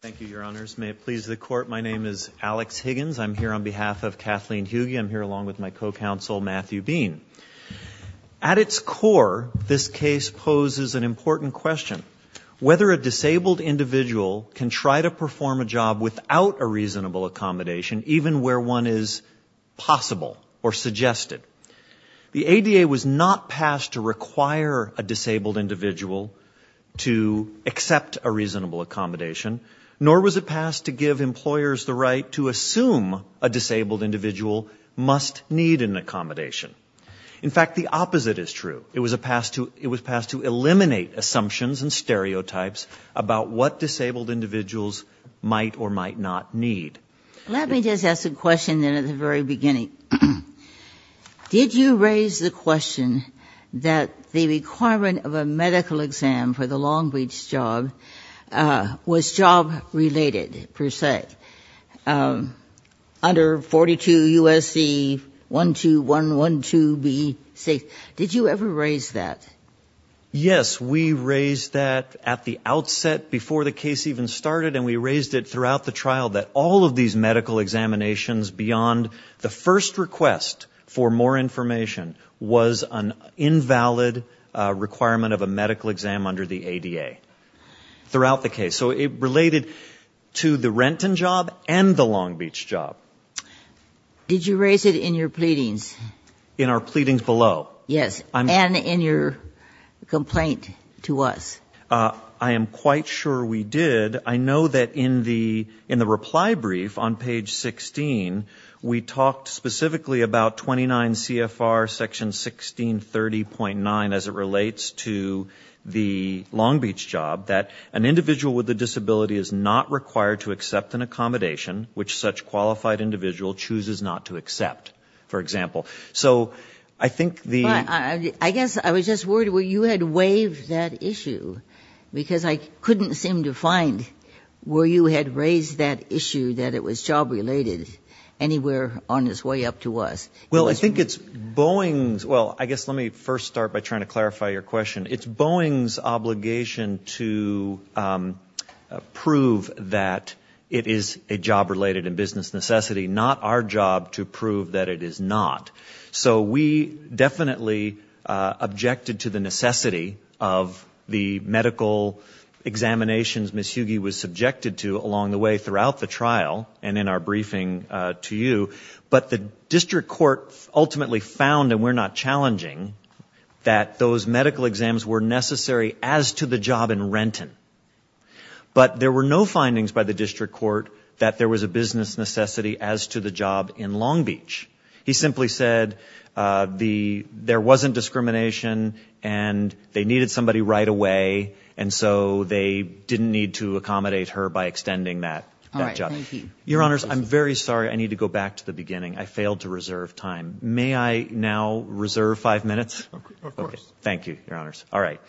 Thank you, Your Honors. May it please the Court, my name is Alex Higgins. I'm here on behalf of Kathleen Huge. I'm here along with my co-counsel, Matthew Bean. At its core, this case poses an important question. Whether a disabled individual can try to perform a job without a reasonable accommodation, even where one is possible or suggested. The ADA was not passed to require a disabled individual to accept a reasonable accommodation, nor was it passed to give employers the right to assume a disabled individual must need an accommodation. In fact, the opposite is true. It was passed to eliminate assumptions and stereotypes about what disabled individuals might or might not need. Let me just ask a question then at the very beginning. Did you raise the question that the requirement of a medical exam for the Long Beach job was job-related, per se? Under 42 U.S.C. 12112B, did you ever raise that? Yes, we raised that at the outset, before the case even started, and we raised it throughout the trial that all of these medical examinations beyond the first request for more information was an invalid requirement of a medical exam under the ADA throughout the case. So it related to the Renton job and the Long Beach job. Did you raise it in your pleadings? In our pleadings below? Yes, and in your complaint to us. I am quite sure we did. I know that in the reply brief on page 16, we talked specifically about 29 CFR section 1630.9 as it relates to the Long Beach job, that an individual with a disability is not required to accept an accommodation which such qualified individual chooses not to accept, for example. So I think the I guess I was just worried where you had waived that issue, because I couldn't seem to find where you had raised that issue that it was job-related anywhere on its way up to us. Well, I think it's Boeing's, well, I guess let me first start by trying to clarify your question. It's Boeing's obligation to prove that it is a job-related and business necessity, not our job to prove that it is not. So we definitely objected to the necessity of the medical examinations Ms. Hughey was subjected to along the way throughout the trial and in our briefing to you, but the district court ultimately found, and we're not challenging, that those medical exams were necessary as to the job in Renton. But there were no findings by the district court that there was a business necessity as to the job in Long Beach. He simply said there wasn't discrimination and they needed somebody right away, and so they didn't need to accommodate her by extending that job. All right. Thank you. Your Honors, I'm very sorry. I need to go back to the beginning. I failed to reserve Of course. Thank you, Your Honors. All right.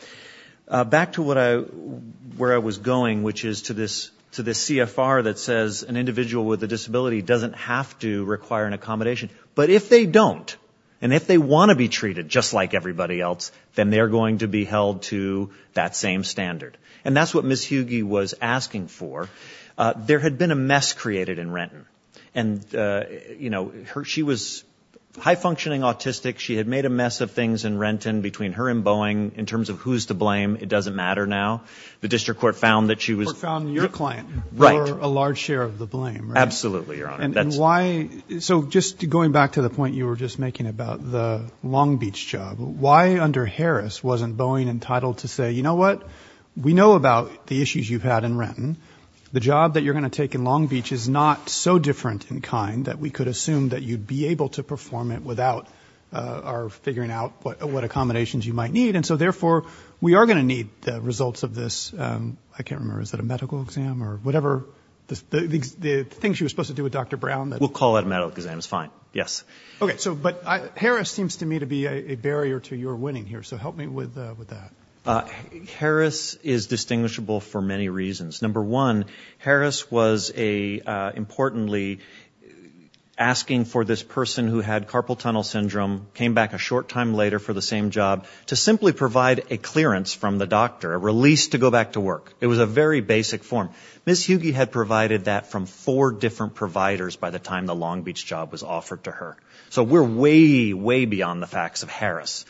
Back to where I was going, which is to this CFR that says an individual with a disability doesn't have to require an accommodation, but if they don't and if they want to be treated just like everybody else, then they're going to be held to that same standard. And that's what Ms. Hughey was asking for. There had been a mess created in Renton, and she was high-functioning autistic. She had made a mistake. I mean, her in Boeing, in terms of who's to blame, it doesn't matter now. The district court found that she was Court found your client Right. For a large share of the blame, right? Absolutely, Your Honor. And why? So just going back to the point you were just making about the Long Beach job, why under Harris wasn't Boeing entitled to say, you know what? We know about the issues you've had in Renton. The job that you're going to take in Long Beach is not so different in kind that we could assume that you'd be able to perform it without our figuring out what accommodations you might need. And so, therefore, we are going to need the results of this. I can't remember. Is that a medical exam or whatever? The things you were supposed to do with Dr. Brown that We'll call it a medical exam. It's fine. Yes. Okay. So but Harris seems to me to be a barrier to your winning here. So help me with that. Harris is distinguishable for many reasons. Number one, Harris was a, importantly, asking for this person who had carpal tunnel syndrome, came back a short time later for the same job, to simply provide a clearance from the doctor, a release to go back to work. It was a very basic form. Ms. Hughey had provided that from four different providers by the time the Long Beach job was offered to her. So we're way, way beyond the facts of Harris.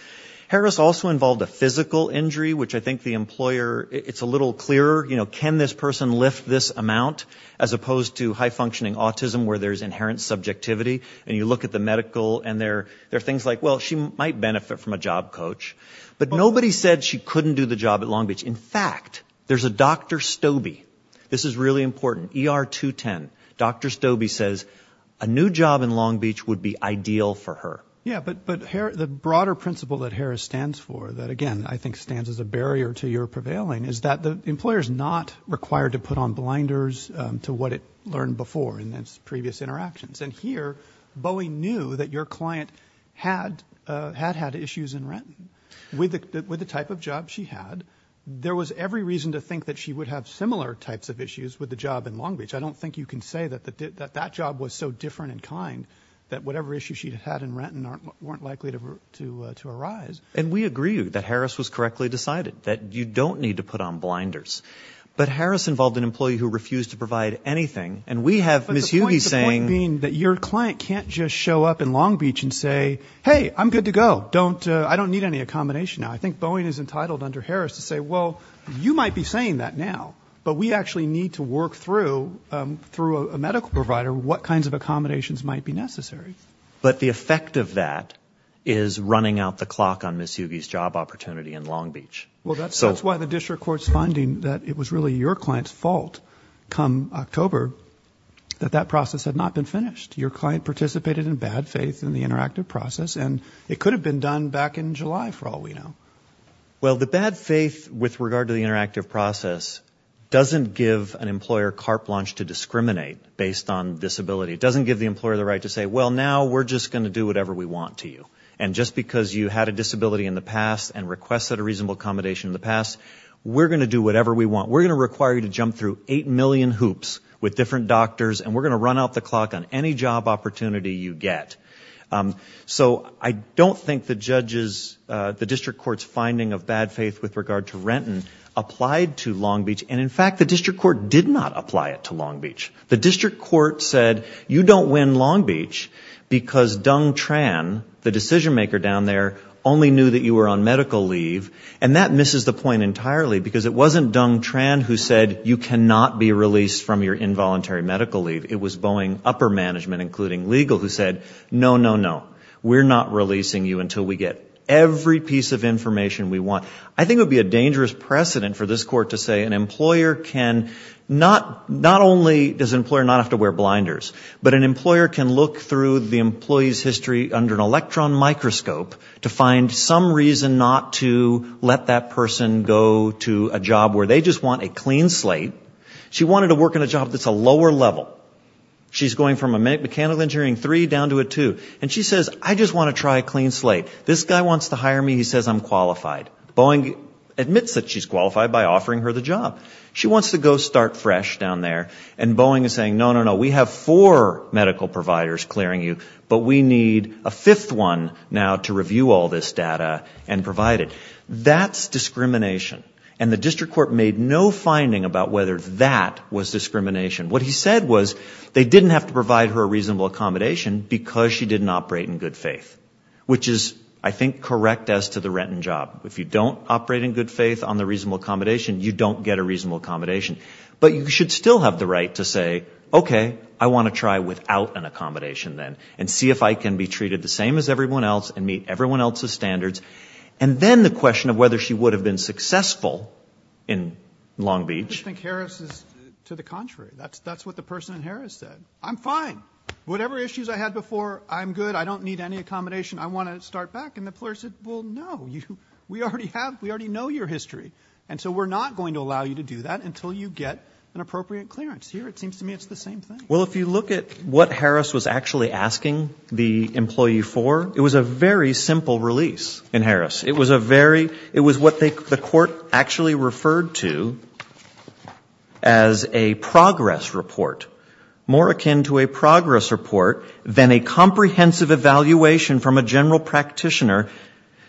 Harris also involved a physical injury, which I think the employer, it's a little clearer, you know, can this person lift this amount as opposed to high functioning autism where there's inherent subjectivity and you look at the medical and there are things like, well, she might benefit from a job coach. But nobody said she couldn't do the job at Long Beach. In fact, there's a Dr. Stobie. This is really important. ER 210. Dr. Stobie says a new job in Long Beach would be ideal for her. Yeah. But the broader principle that Harris stands for that, again, I think stands as a barrier to your prevailing is that the employer is not required to put on blinders to what it learned before in its previous interactions. And here, Bowie knew that your client had had issues in Renton with the type of job she had. There was every reason to think that she would have similar types of issues with the job in Long Beach. I don't think you can say that that job was so different in kind that whatever issue she had in Renton weren't likely to to to arise. And we agree that Harris was correctly decided that you don't need to put on blinders. But But the point being that your client can't just show up in Long Beach and say, hey, I'm good to go. Don't I don't need any accommodation now. I think Boeing is entitled under Harris to say, well, you might be saying that now, but we actually need to work through through a medical provider what kinds of accommodations might be necessary. But the effect of that is running out the clock on Miss Yugi's job opportunity in Long Beach. Well, that's why the district court's finding that it was really your client's fault come October that that process had not been finished. Your client participated in bad faith in the interactive process, and it could have been done back in July for all we know. Well, the bad faith with regard to the interactive process doesn't give an employer carte blanche to discriminate based on disability. It doesn't give the employer the right to say, well, now we're just going to do whatever we want to you. And just because you had a disability in the past and request that a reasonable accommodation in the past, we're going to do whatever we want. We're going to require you to jump through eight million hoops with different doctors, and we're going to run out the clock on any job opportunity you get. So I don't think the judges, the district court's finding of bad faith with regard to Renton applied to Long Beach. And in fact, the district court did not apply it to Long Beach. The district court said, you don't win Long Beach because Dung Tran, the decision maker down there, only knew that you were on medical leave. And that misses the point entirely because it wasn't Dung Tran who said, you cannot be released from your involuntary medical leave. It was Boeing upper management, including legal, who said, no, no, no. We're not releasing you until we get every piece of information we want. I think it would be a dangerous precedent for this court to say an employer can not not only does an employer not have to wear blinders, but an employer can look through the employee's history under an electron microscope to find some reason not to let that person go to a job where they just want a clean slate. She wanted to work in a job that's a lower level. She's going from a mechanical engineering three down to a two. And she says, I just want to try a clean slate. This guy wants to hire me. He says I'm qualified. Boeing admits that she's qualified by offering her the job. She wants to go start fresh down there. And Boeing is saying, no, no, no, we have four medical providers clearing you, but we need a fifth one now to review all this data and provide it. That's discrimination. And the district court made no finding about whether that was discrimination. What he said was they didn't have to provide her a reasonable accommodation because she didn't operate in good faith, which is, I think, correct as to the rent and job. If you don't operate in good faith on the reasonable accommodation, you don't get a reasonable accommodation. But you should still have the right to say, okay, I want to try without an accommodation then and see if I can be treated the same as everyone else and meet everyone else's needs. It's a question of whether she would have been successful in Long Beach. I think Harris is to the contrary. That's what the person in Harris said. I'm fine. Whatever issues I had before, I'm good. I don't need any accommodation. I want to start back. And the employer said, well, no, we already have, we already know your history. And so we're not going to allow you to do that until you get an appropriate clearance. Here, it seems to me it's the same thing. Well, if you look at what Harris was actually asking the employee for, it was a very simple release in Harris. It was a very, it was what the court actually referred to as a progress report, more akin to a progress report than a comprehensive evaluation from a general practitioner.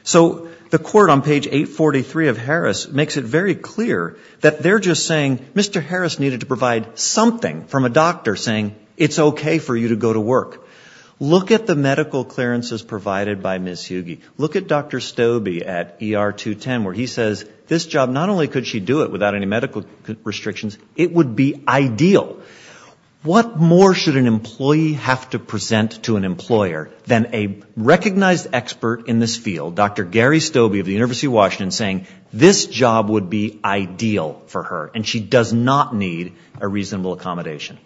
So the court on page 843 of Harris makes it very clear that they're just saying Mr. Harris needed to provide something from a doctor saying it's okay for you to go to work. Look at the medical clearances provided by Ms. Hughey. Look at Dr. Stoebe at ER 210 where he says this job, not only could she do it without any medical restrictions, it would be ideal. What more should an employee have to present to an employer than a recognized expert in this field, Dr. Gary Stoebe of the University of Washington saying this job would be ideal for her and she does not need a reasonable accommodation.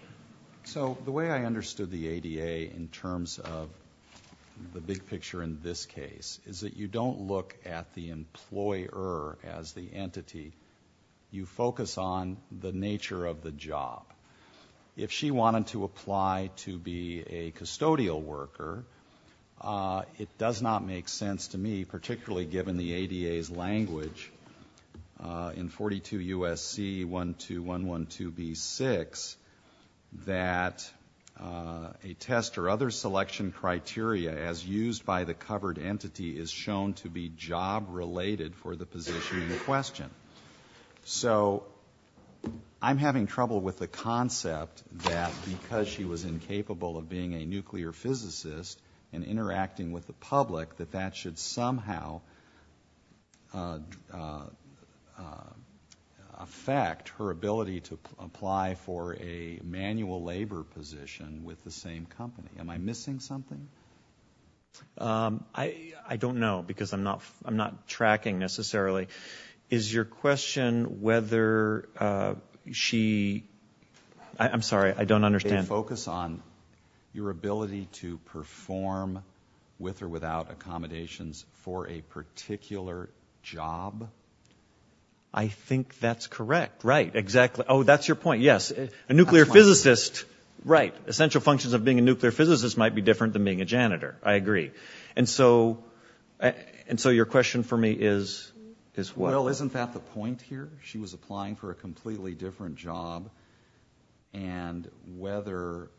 So the way I understood the ADA in terms of the big picture in this case is that you don't look at the employer as the entity. You focus on the nature of the job. If she wanted to apply to be a custodial worker, it does not make sense to me, particularly given the ADA's language in 42 U.S.C. 12112B6 that a test or other selection criteria as used by the covered entity is shown to be job related for the position in question. So I'm having trouble with the concept that because she was incapable of being a nuclear physicist and interacting with the public, that that should somehow affect her ability to apply for a manual labor position with the same company. Am I missing something? I don't know because I'm not tracking necessarily. Is your question whether she, I'm sorry, I don't know whether she would perform with or without accommodations for a particular job? I think that's correct. Right. Exactly. Oh, that's your point. Yes. A nuclear physicist, right, essential functions of being a nuclear physicist might be different than being a janitor. I agree. And so your question for me is what? Well, isn't that the point here? She was applying for a completely different job and whether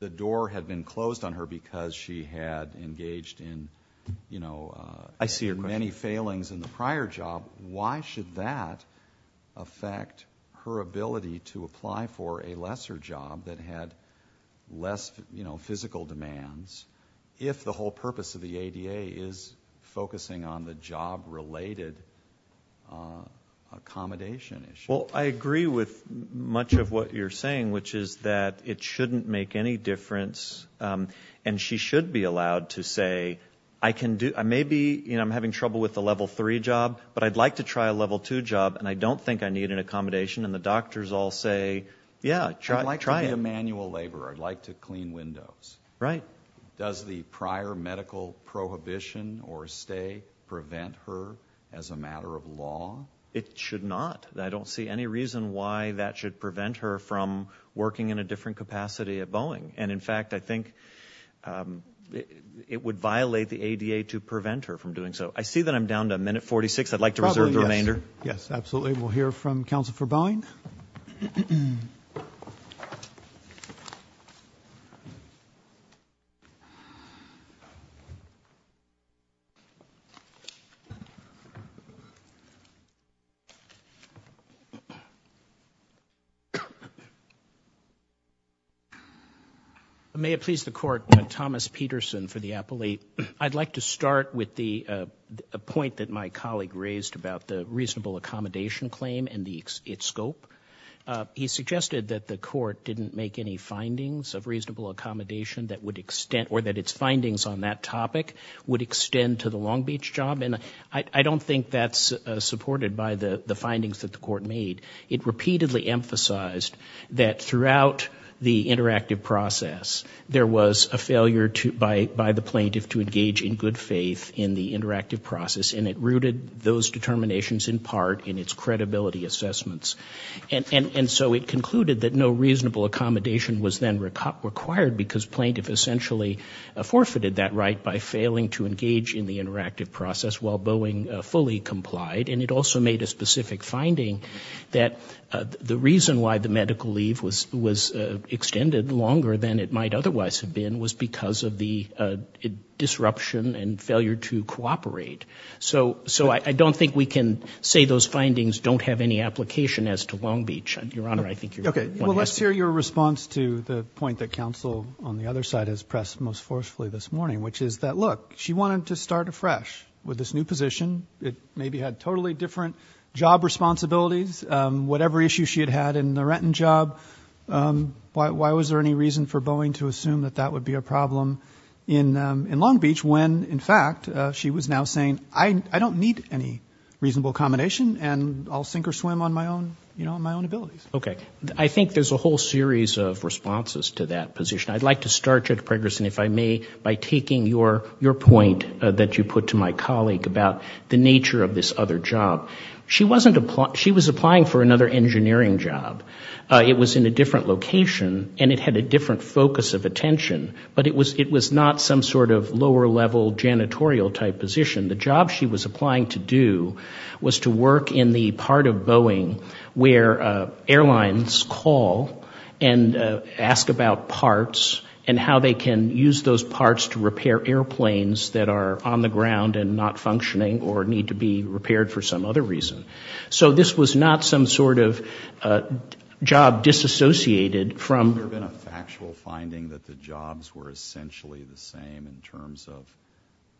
the door had been closed on her because she had engaged in, you know, many failings in the prior job, why should that affect her ability to apply for a lesser job that had less, you know, physical demands if the whole purpose of the ADA is focusing on the job related accommodation issue? Well, I agree with much of what you're saying, which is that it shouldn't make any difference. And she should be allowed to say, I can do, I may be, you know, I'm having trouble with the level three job, but I'd like to try a level two job and I don't think I need an accommodation. And the doctors all say, yeah, try it. I'd like to be a manual laborer. I'd like to clean windows. Right. Does the prior medical prohibition or stay prevent her as a matter of law? It should not. I don't see any reason why that should prevent her from working in a different capacity at Boeing. And in fact, I think it would violate the ADA to prevent her from doing so. I see that I'm down to a minute 46. I'd like to reserve the remainder. Yes, absolutely. We'll hear from counsel for Boeing. May it please the court, Thomas Peterson for the appellee. I'd like to start with the point that my colleague raised about the reasonable accommodation claim and the scope. He suggested that the court didn't make any findings of reasonable accommodation that would extend or that its findings on that topic would extend to the Long Beach job. And I don't think that's supported by the findings that the court made. It repeatedly emphasized that throughout the interactive process, there was a failure by the plaintiff to engage in good faith in the interactive process. And it rooted those determinations in part in its credibility assessments. And so it concluded that no reasonable accommodation was then required because plaintiff essentially forfeited that right by failing to engage in the interactive process while And it also made a specific finding that the reason why the medical leave was extended longer than it might otherwise have been was because of the disruption and failure to cooperate. So I don't think we can say those findings don't have any application as to Long Beach. Your Honor, I think your point has to be made. Okay. Well, let's hear your response to the point that counsel on the other side has pressed most forcefully this morning, which is that, look, she wanted to start afresh with this new position. It maybe had totally different job responsibilities. Whatever issue she had had in the Renton job, why was there any reason for Boeing to assume that that would be a problem in Long Beach when, in fact, she was now saying, I don't need any reasonable accommodation and I'll sink or swim on my own, you know, on my own abilities? Okay. I think there's a whole series of responses to that position. I'd like to start, Judge about the nature of this other job. She was applying for another engineering job. It was in a different location and it had a different focus of attention, but it was not some sort of lower level janitorial type position. The job she was applying to do was to work in the part of Boeing where airlines call and ask about parts and how they can use those parts for air conditioning or need to be repaired for some other reason. So this was not some sort of job disassociated from Has there been a factual finding that the jobs were essentially the same in terms of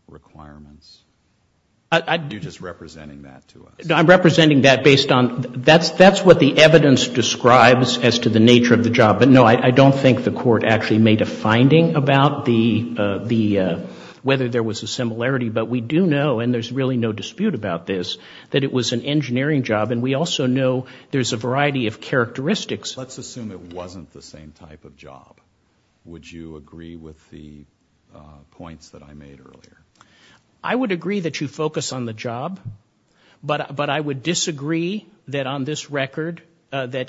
requirements? You're just representing that to us. No, I'm representing that based on, that's what the evidence describes as to the nature of the job. But, no, I don't think the Court actually made a finding about the, whether there was a similarity. But we do know, and there's really no dispute about this, that it was an engineering job. And we also know there's a variety of characteristics. Let's assume it wasn't the same type of job. Would you agree with the points that I made earlier? I would agree that you focus on the job, but I would disagree that on this record that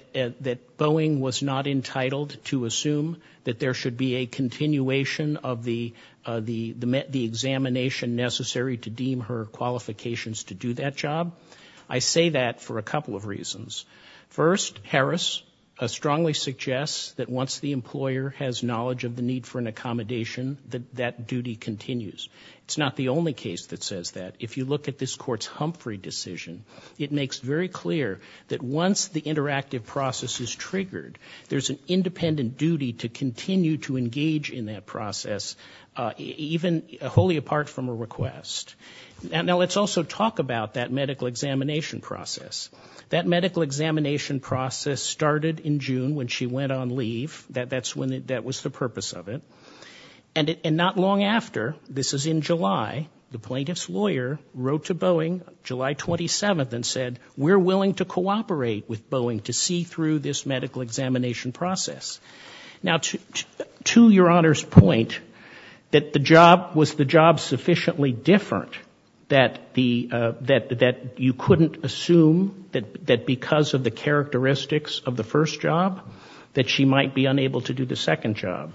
there should be a continuation of the examination necessary to deem her qualifications to do that job. I say that for a couple of reasons. First, Harris strongly suggests that once the employer has knowledge of the need for an accommodation, that duty continues. It's not the only case that says that. If you look at this Court's Humphrey decision, it makes very clear that once the interactive process is triggered, there's an independent duty to continue to engage in that process, even wholly apart from a request. Now let's also talk about that medical examination process. That medical examination process started in June when she went on leave. That was the purpose of it. And not long after, this is in July, the plaintiff's lawyer wrote to Boeing July 27th and said, we're willing to cooperate with Boeing to see through this medical examination process. Now to your Honor's point, that the job was the job sufficiently different that you couldn't assume that because of the characteristics of the first job, that she might be unable to do the second job.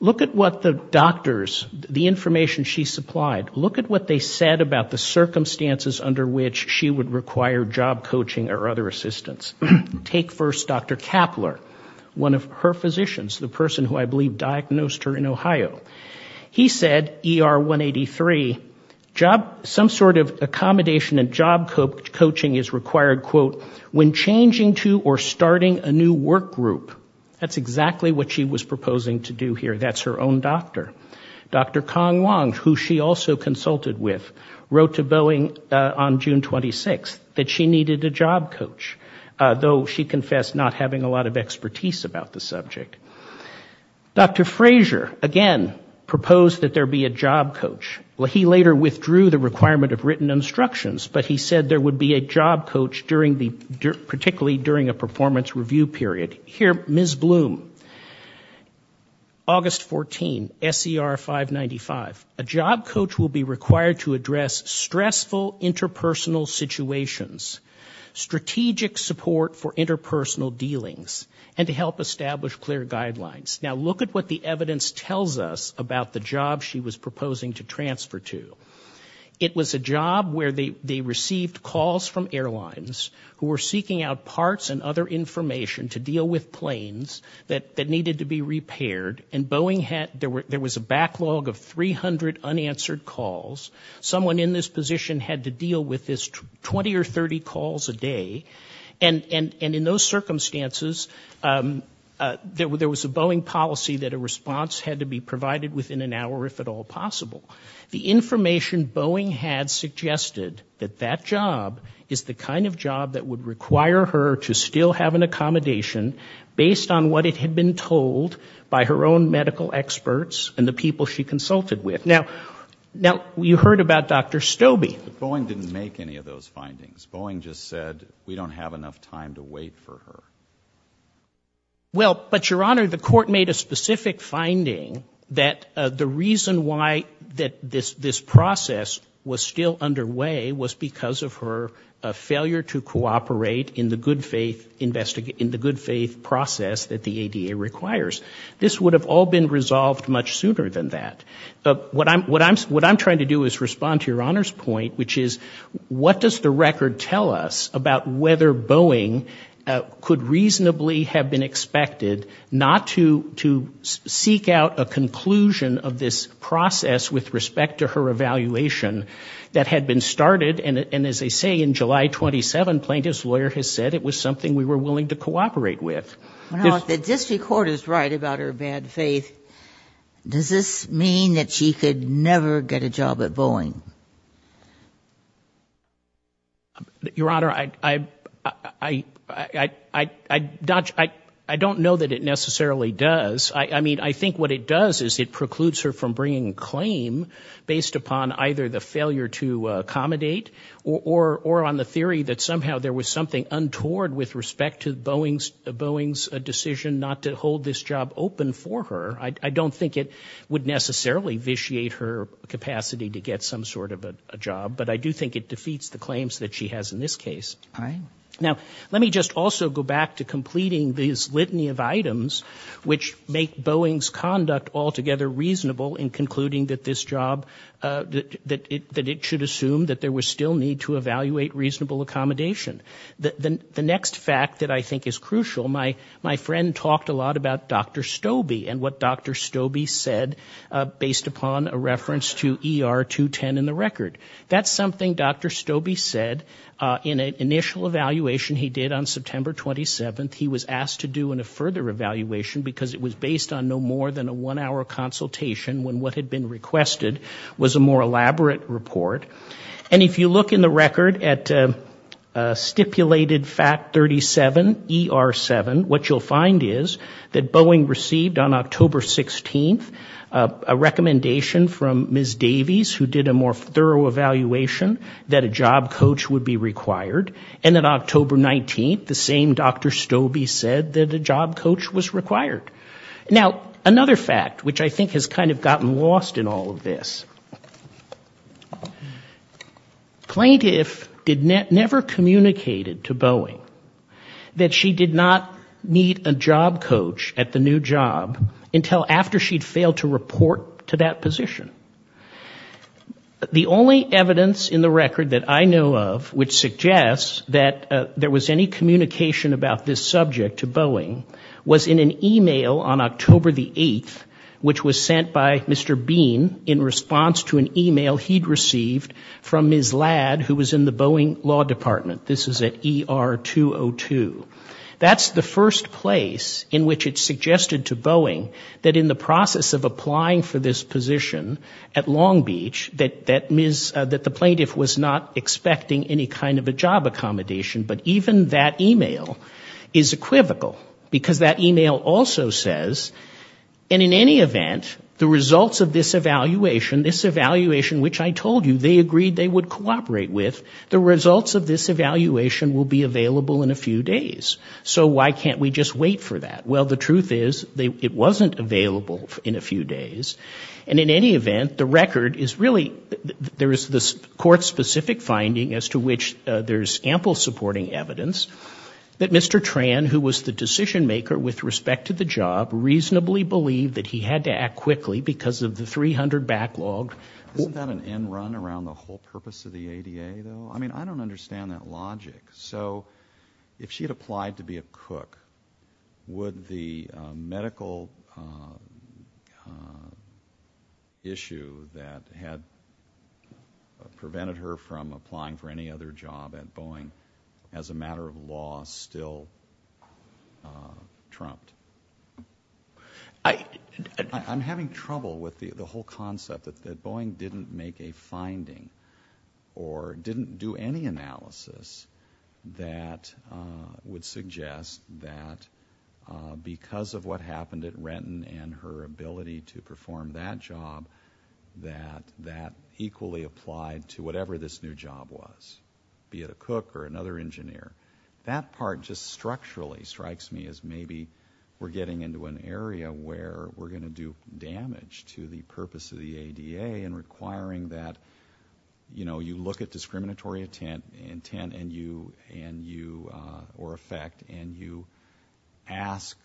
Look at what the doctors, the information she supplied, look at what her other assistants. Take first Dr. Kapler, one of her physicians, the person who I believe diagnosed her in Ohio. He said ER 183, some sort of accommodation and job coaching is required, quote, when changing to or starting a new work group. That's exactly what she was proposing to do here. That's her own doctor. Dr. Kong Wong, who she also consulted with, wrote to Boeing on June 26th that she needed a job coach, though she confessed not having a lot of expertise about the subject. Dr. Frazier, again, proposed that there be a job coach. He later withdrew the requirement of written instructions, but he said there would be a job coach particularly during a performance review period. Here, Ms. Bloom, August 14th, SER 595, a job coach will be required to address stressful interpersonal situations, strategic support for interpersonal dealings, and to help establish clear guidelines. Now, look at what the evidence tells us about the job she was proposing to transfer to. It was a job where they received calls from airlines who were seeking out parts and other information to deal with planes that needed to be repaired, and there was a backlog of 300 unanswered calls. Someone in this position had to deal with this 20 or 30 calls a day, and in those circumstances, there was a Boeing policy that a response had to be provided within an hour, if at all possible. The information Boeing had suggested that that job is the kind of job that would require her to still have an accommodation based on what it had been told by her own medical experts and the people she consulted with. Now, you heard about Dr. Stobie. But Boeing didn't make any of those findings. Boeing just said, we don't have enough time to wait for her. Well, but Your Honor, the court made a specific finding that the reason why this process was still underway was because of her failure to cooperate in the good faith process that the ADA requires. This would have all been resolved much sooner than that. What I'm trying to do is respond to Your Honor's point, which is, what does the record tell us about whether Boeing could reasonably have been expected not to seek out a conclusion of this process with respect to her evaluation that had been started, and as they say, in July 27 plaintiff's lawyer has said it was something we were willing to cooperate with. Now, if the district court is right about her bad faith, does this mean that she could never get a job at Boeing? Your Honor, I don't know that it necessarily does. I mean, I think what it does is it precludes her from bringing a claim based upon either the failure to accommodate or on the theory that somehow there was something untoward with respect to Boeing's decision not to hold this job open for her. I don't think it would necessarily vitiate her capacity to get some sort of a job, but I do think it defeats the claims that she has in this case. All right. Now, let me just also go back to completing this litany of items which make Boeing's conduct altogether reasonable in concluding that this job, that it should assume that there was still need to evaluate reasonable accommodation. The next fact that I think is crucial, my friend talked a lot about Dr. Stobie and what Dr. Stobie said based upon a reference to ER 210 in the record. That's something Dr. Stobie said in an initial evaluation he did on September 27. He was asked to do in a further evaluation because it was based on no more than a one-hour consultation when what had been requested was a more elaborate report. And if you look in the record at stipulated fact 37, ER7, what you'll find is that Boeing received on October 16th a recommendation from Ms. Davies who did a more thorough evaluation that a job coach would be required. And on October 19th, the same Dr. Stobie said that a job coach was required. Now, another fact which I think has kind of gotten lost in all of this, plaintiff never communicated to Boeing that she did not meet a job coach at the new job until after she'd failed to report to that position. The only evidence in the record that I know of which is an email on October the 8th which was sent by Mr. Bean in response to an email he'd received from Ms. Ladd who was in the Boeing Law Department. This is at ER202. That's the first place in which it's suggested to Boeing that in the process of applying for this position at Long Beach that the plaintiff was not expecting any kind of a job accommodation. But even that email is equivocal because that email also says, and in any event, the results of this evaluation, this evaluation which I told you they agreed they would cooperate with, the results of this evaluation will be available in a few days. So why can't we just wait for that? Well, the truth is, it wasn't available in a few days. And in any event, the record is really, there is this court-specific finding as to which there's ample supporting evidence that Mr. Tran, who was the decision-maker with respect to the job, reasonably believed that he had to act quickly because of the 300 backlog. Isn't that an end run around the whole purpose of the ADA, though? I mean, I don't understand that logic. So if she had applied to be a cook, would the medical issue that had prevented her from applying for any other job at Boeing as a matter of law still trumped? I'm having trouble with the whole concept that Boeing didn't make a finding or didn't do any analysis that would suggest that because of what happened at Renton and her ability to perform that job, that that equally applied to whatever this new job was, be it a cook or another engineer. That part just structurally strikes me as maybe we're getting into an area where we're going to do damage to the purpose of the ADA in requiring that, you know, you look at discriminatory intent and you, or effect, and you ask,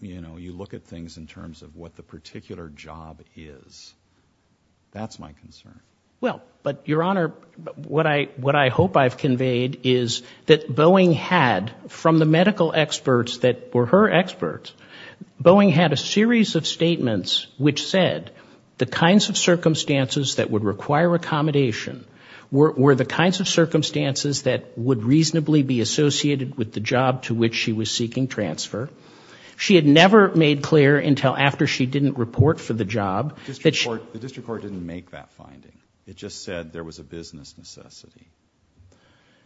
you know, you look at things in terms of what the particular job is. That's my concern. Well, but Your Honor, what I hope I've conveyed is that Boeing had, from the medical experts that were her experts, Boeing had a series of statements which said the kinds of circumstances that would require accommodation were the kinds of circumstances that would reasonably be associated with the job to which she was seeking transfer. She had never made clear until after she didn't report for the job that she — The district court didn't make that finding. It just said there was a business necessity.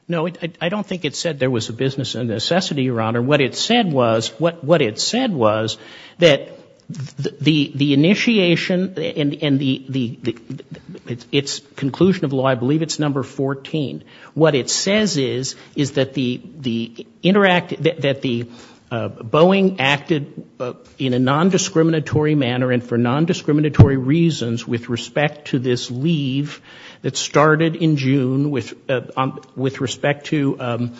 No, I don't think it said there was a business necessity, Your Honor. What it said was, what it said was that the initiation and the — its conclusion of law, I believe it's number 14. What it says is, is that the interact — that the Boeing acted in a nondiscriminatory manner and for nondiscriminatory reasons with respect to this leave that started in June with respect to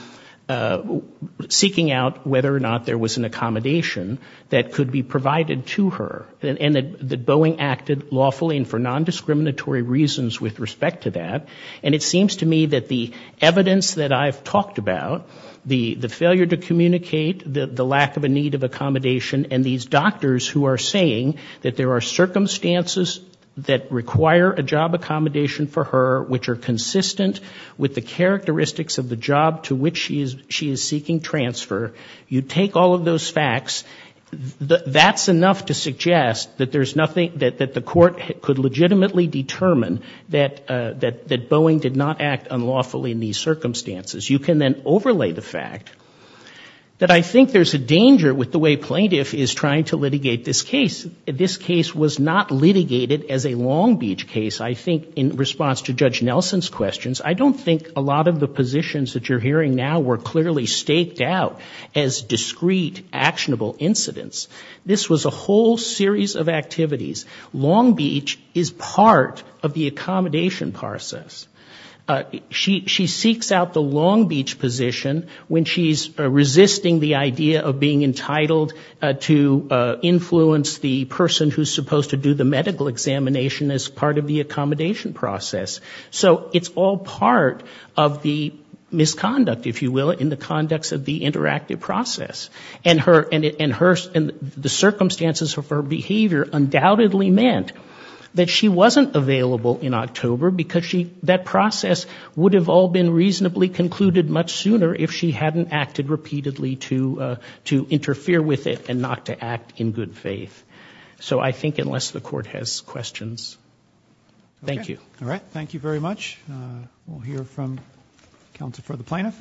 seeking out whether or not there was an accommodation that could be provided to her. And that Boeing acted lawfully and for nondiscriminatory reasons with respect to that. And it seems to me that the evidence that I've talked about, the failure to communicate, the lack of a need of accommodation, and these doctors who are saying that there are circumstances that require a job accommodation for her which are consistent with the characteristics of the job to which she is seeking transfer, you take all of those facts, that's enough to suggest that there's nothing — that the court could legitimately determine that Boeing did not act unlawfully in these circumstances. You can then overlay the fact that I think there's a danger with the way plaintiff is trying to litigate this case. This case was not litigated as a Long Beach case, I think, in response to Judge Nelson's questions. I don't think a lot of the positions that you're hearing now were clearly staked out as discrete, actionable incidents. This was a whole series of activities. Long Beach is part of the accommodation process. She seeks out the Long Beach position when she's resisting the idea of being entitled to influence the person who's supposed to do the medical examination as part of the accommodation process. So it's all part of the misconduct, if you will, in the conducts of the interactive process. And the circumstances of her behavior undoubtedly meant that she wasn't available in October because that process would have all been reasonably concluded much sooner if she hadn't acted repeatedly to interfere with it and not to act in good faith. So I think unless the court has questions — thank you. All right. Thank you very much. We'll hear from counsel for the plaintiff.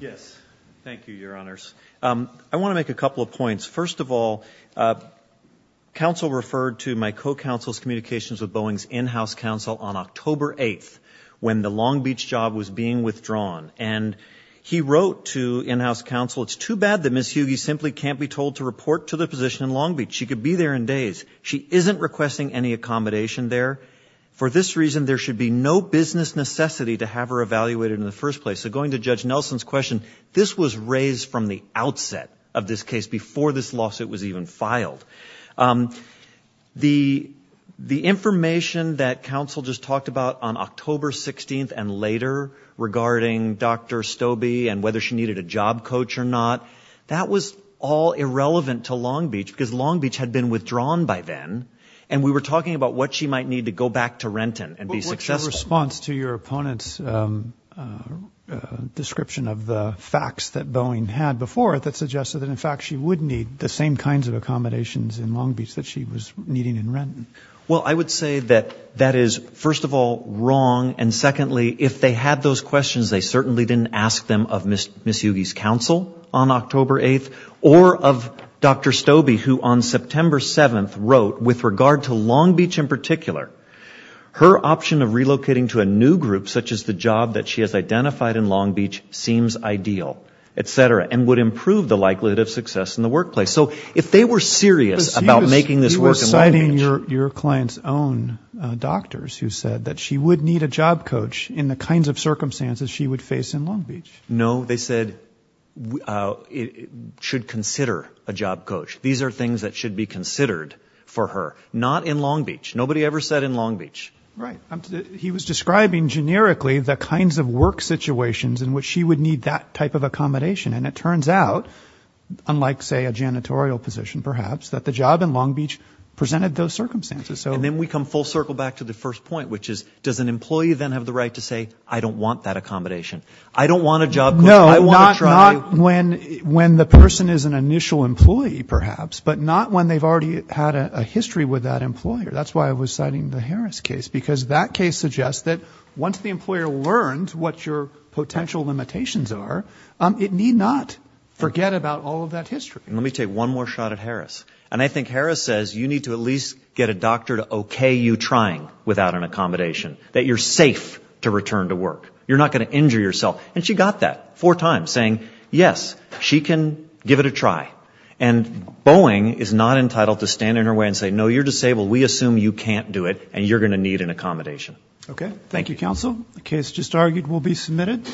Yes. Thank you, Your Honors. I want to make a couple of points. First of all, counsel referred to my co-counsel's communications with Boeing's in-house counsel on October 8th when the Long Beach job was being withdrawn. And he wrote to in-house counsel, it's too bad that Ms. Hughey simply can't be told to report to the position in Long Beach. She could be there in days. She isn't requesting any accommodation there. For this reason, there should be no business necessity to have her evaluated in the first place. So going to Judge Nelson's question, this was raised from the outset of this case before this lawsuit was even filed. The information that counsel just talked about on October 16th and later regarding Dr. Stobie and whether she needed a job coach or not, that was all irrelevant to Long Beach because Long Beach had been withdrawn by then. And we were talking about what she might need to go back to Renton and be successful. But what's your response to your opponent's description of the facts that Boeing had before it that suggested that, in fact, she would need the same kinds of accommodations in Long Beach that she was needing in Renton? Well, I would say that that is, first of all, wrong. And secondly, if they had those questions, they certainly didn't ask them of Ms. Hughey's counsel on October 8th or of Dr. Stobie, who on September 7th wrote, with regard to Long Beach in particular, her option of relocating to a new group such as the job that she has identified in Long Beach seems ideal, et cetera, and would improve the likelihood of success in the workplace. So if they were serious about making this work in Long Beach... But you were citing your client's own doctors who said that she would need a job coach in the kinds of circumstances she would face in Long Beach. No, they said, should consider a job coach. These are things that should be considered for her. Not in Long Beach. Nobody ever said in Long Beach. Right. He was describing generically the kinds of work situations in which she would need that type of accommodation. And it turns out, unlike, say, a janitorial position, perhaps, that the job in Long Beach presented those circumstances. And then we come full circle back to the first point, which is, does an employee then have the right to say, I don't want that accommodation? I don't want a job coach. I want to try... No, not when the person is an initial employee, perhaps, but not when they've already had a history with that employer. That's why I was citing the Harris case, because that case suggests that once the employer learns what your potential limitations are, it need not forget about all of that history. Let me take one more shot at Harris. And I think Harris says you need to at least get a doctor to okay you trying without an accommodation. That you're safe to return to work. You're not going to injure yourself. And she got that four times, saying, yes, she can give it a try. And Boeing is not entitled to stand in her way and say, no, you're disabled. We assume you can't do it, and you're going to need an accommodation. Okay. Thank you, counsel. The case just argued will be submitted.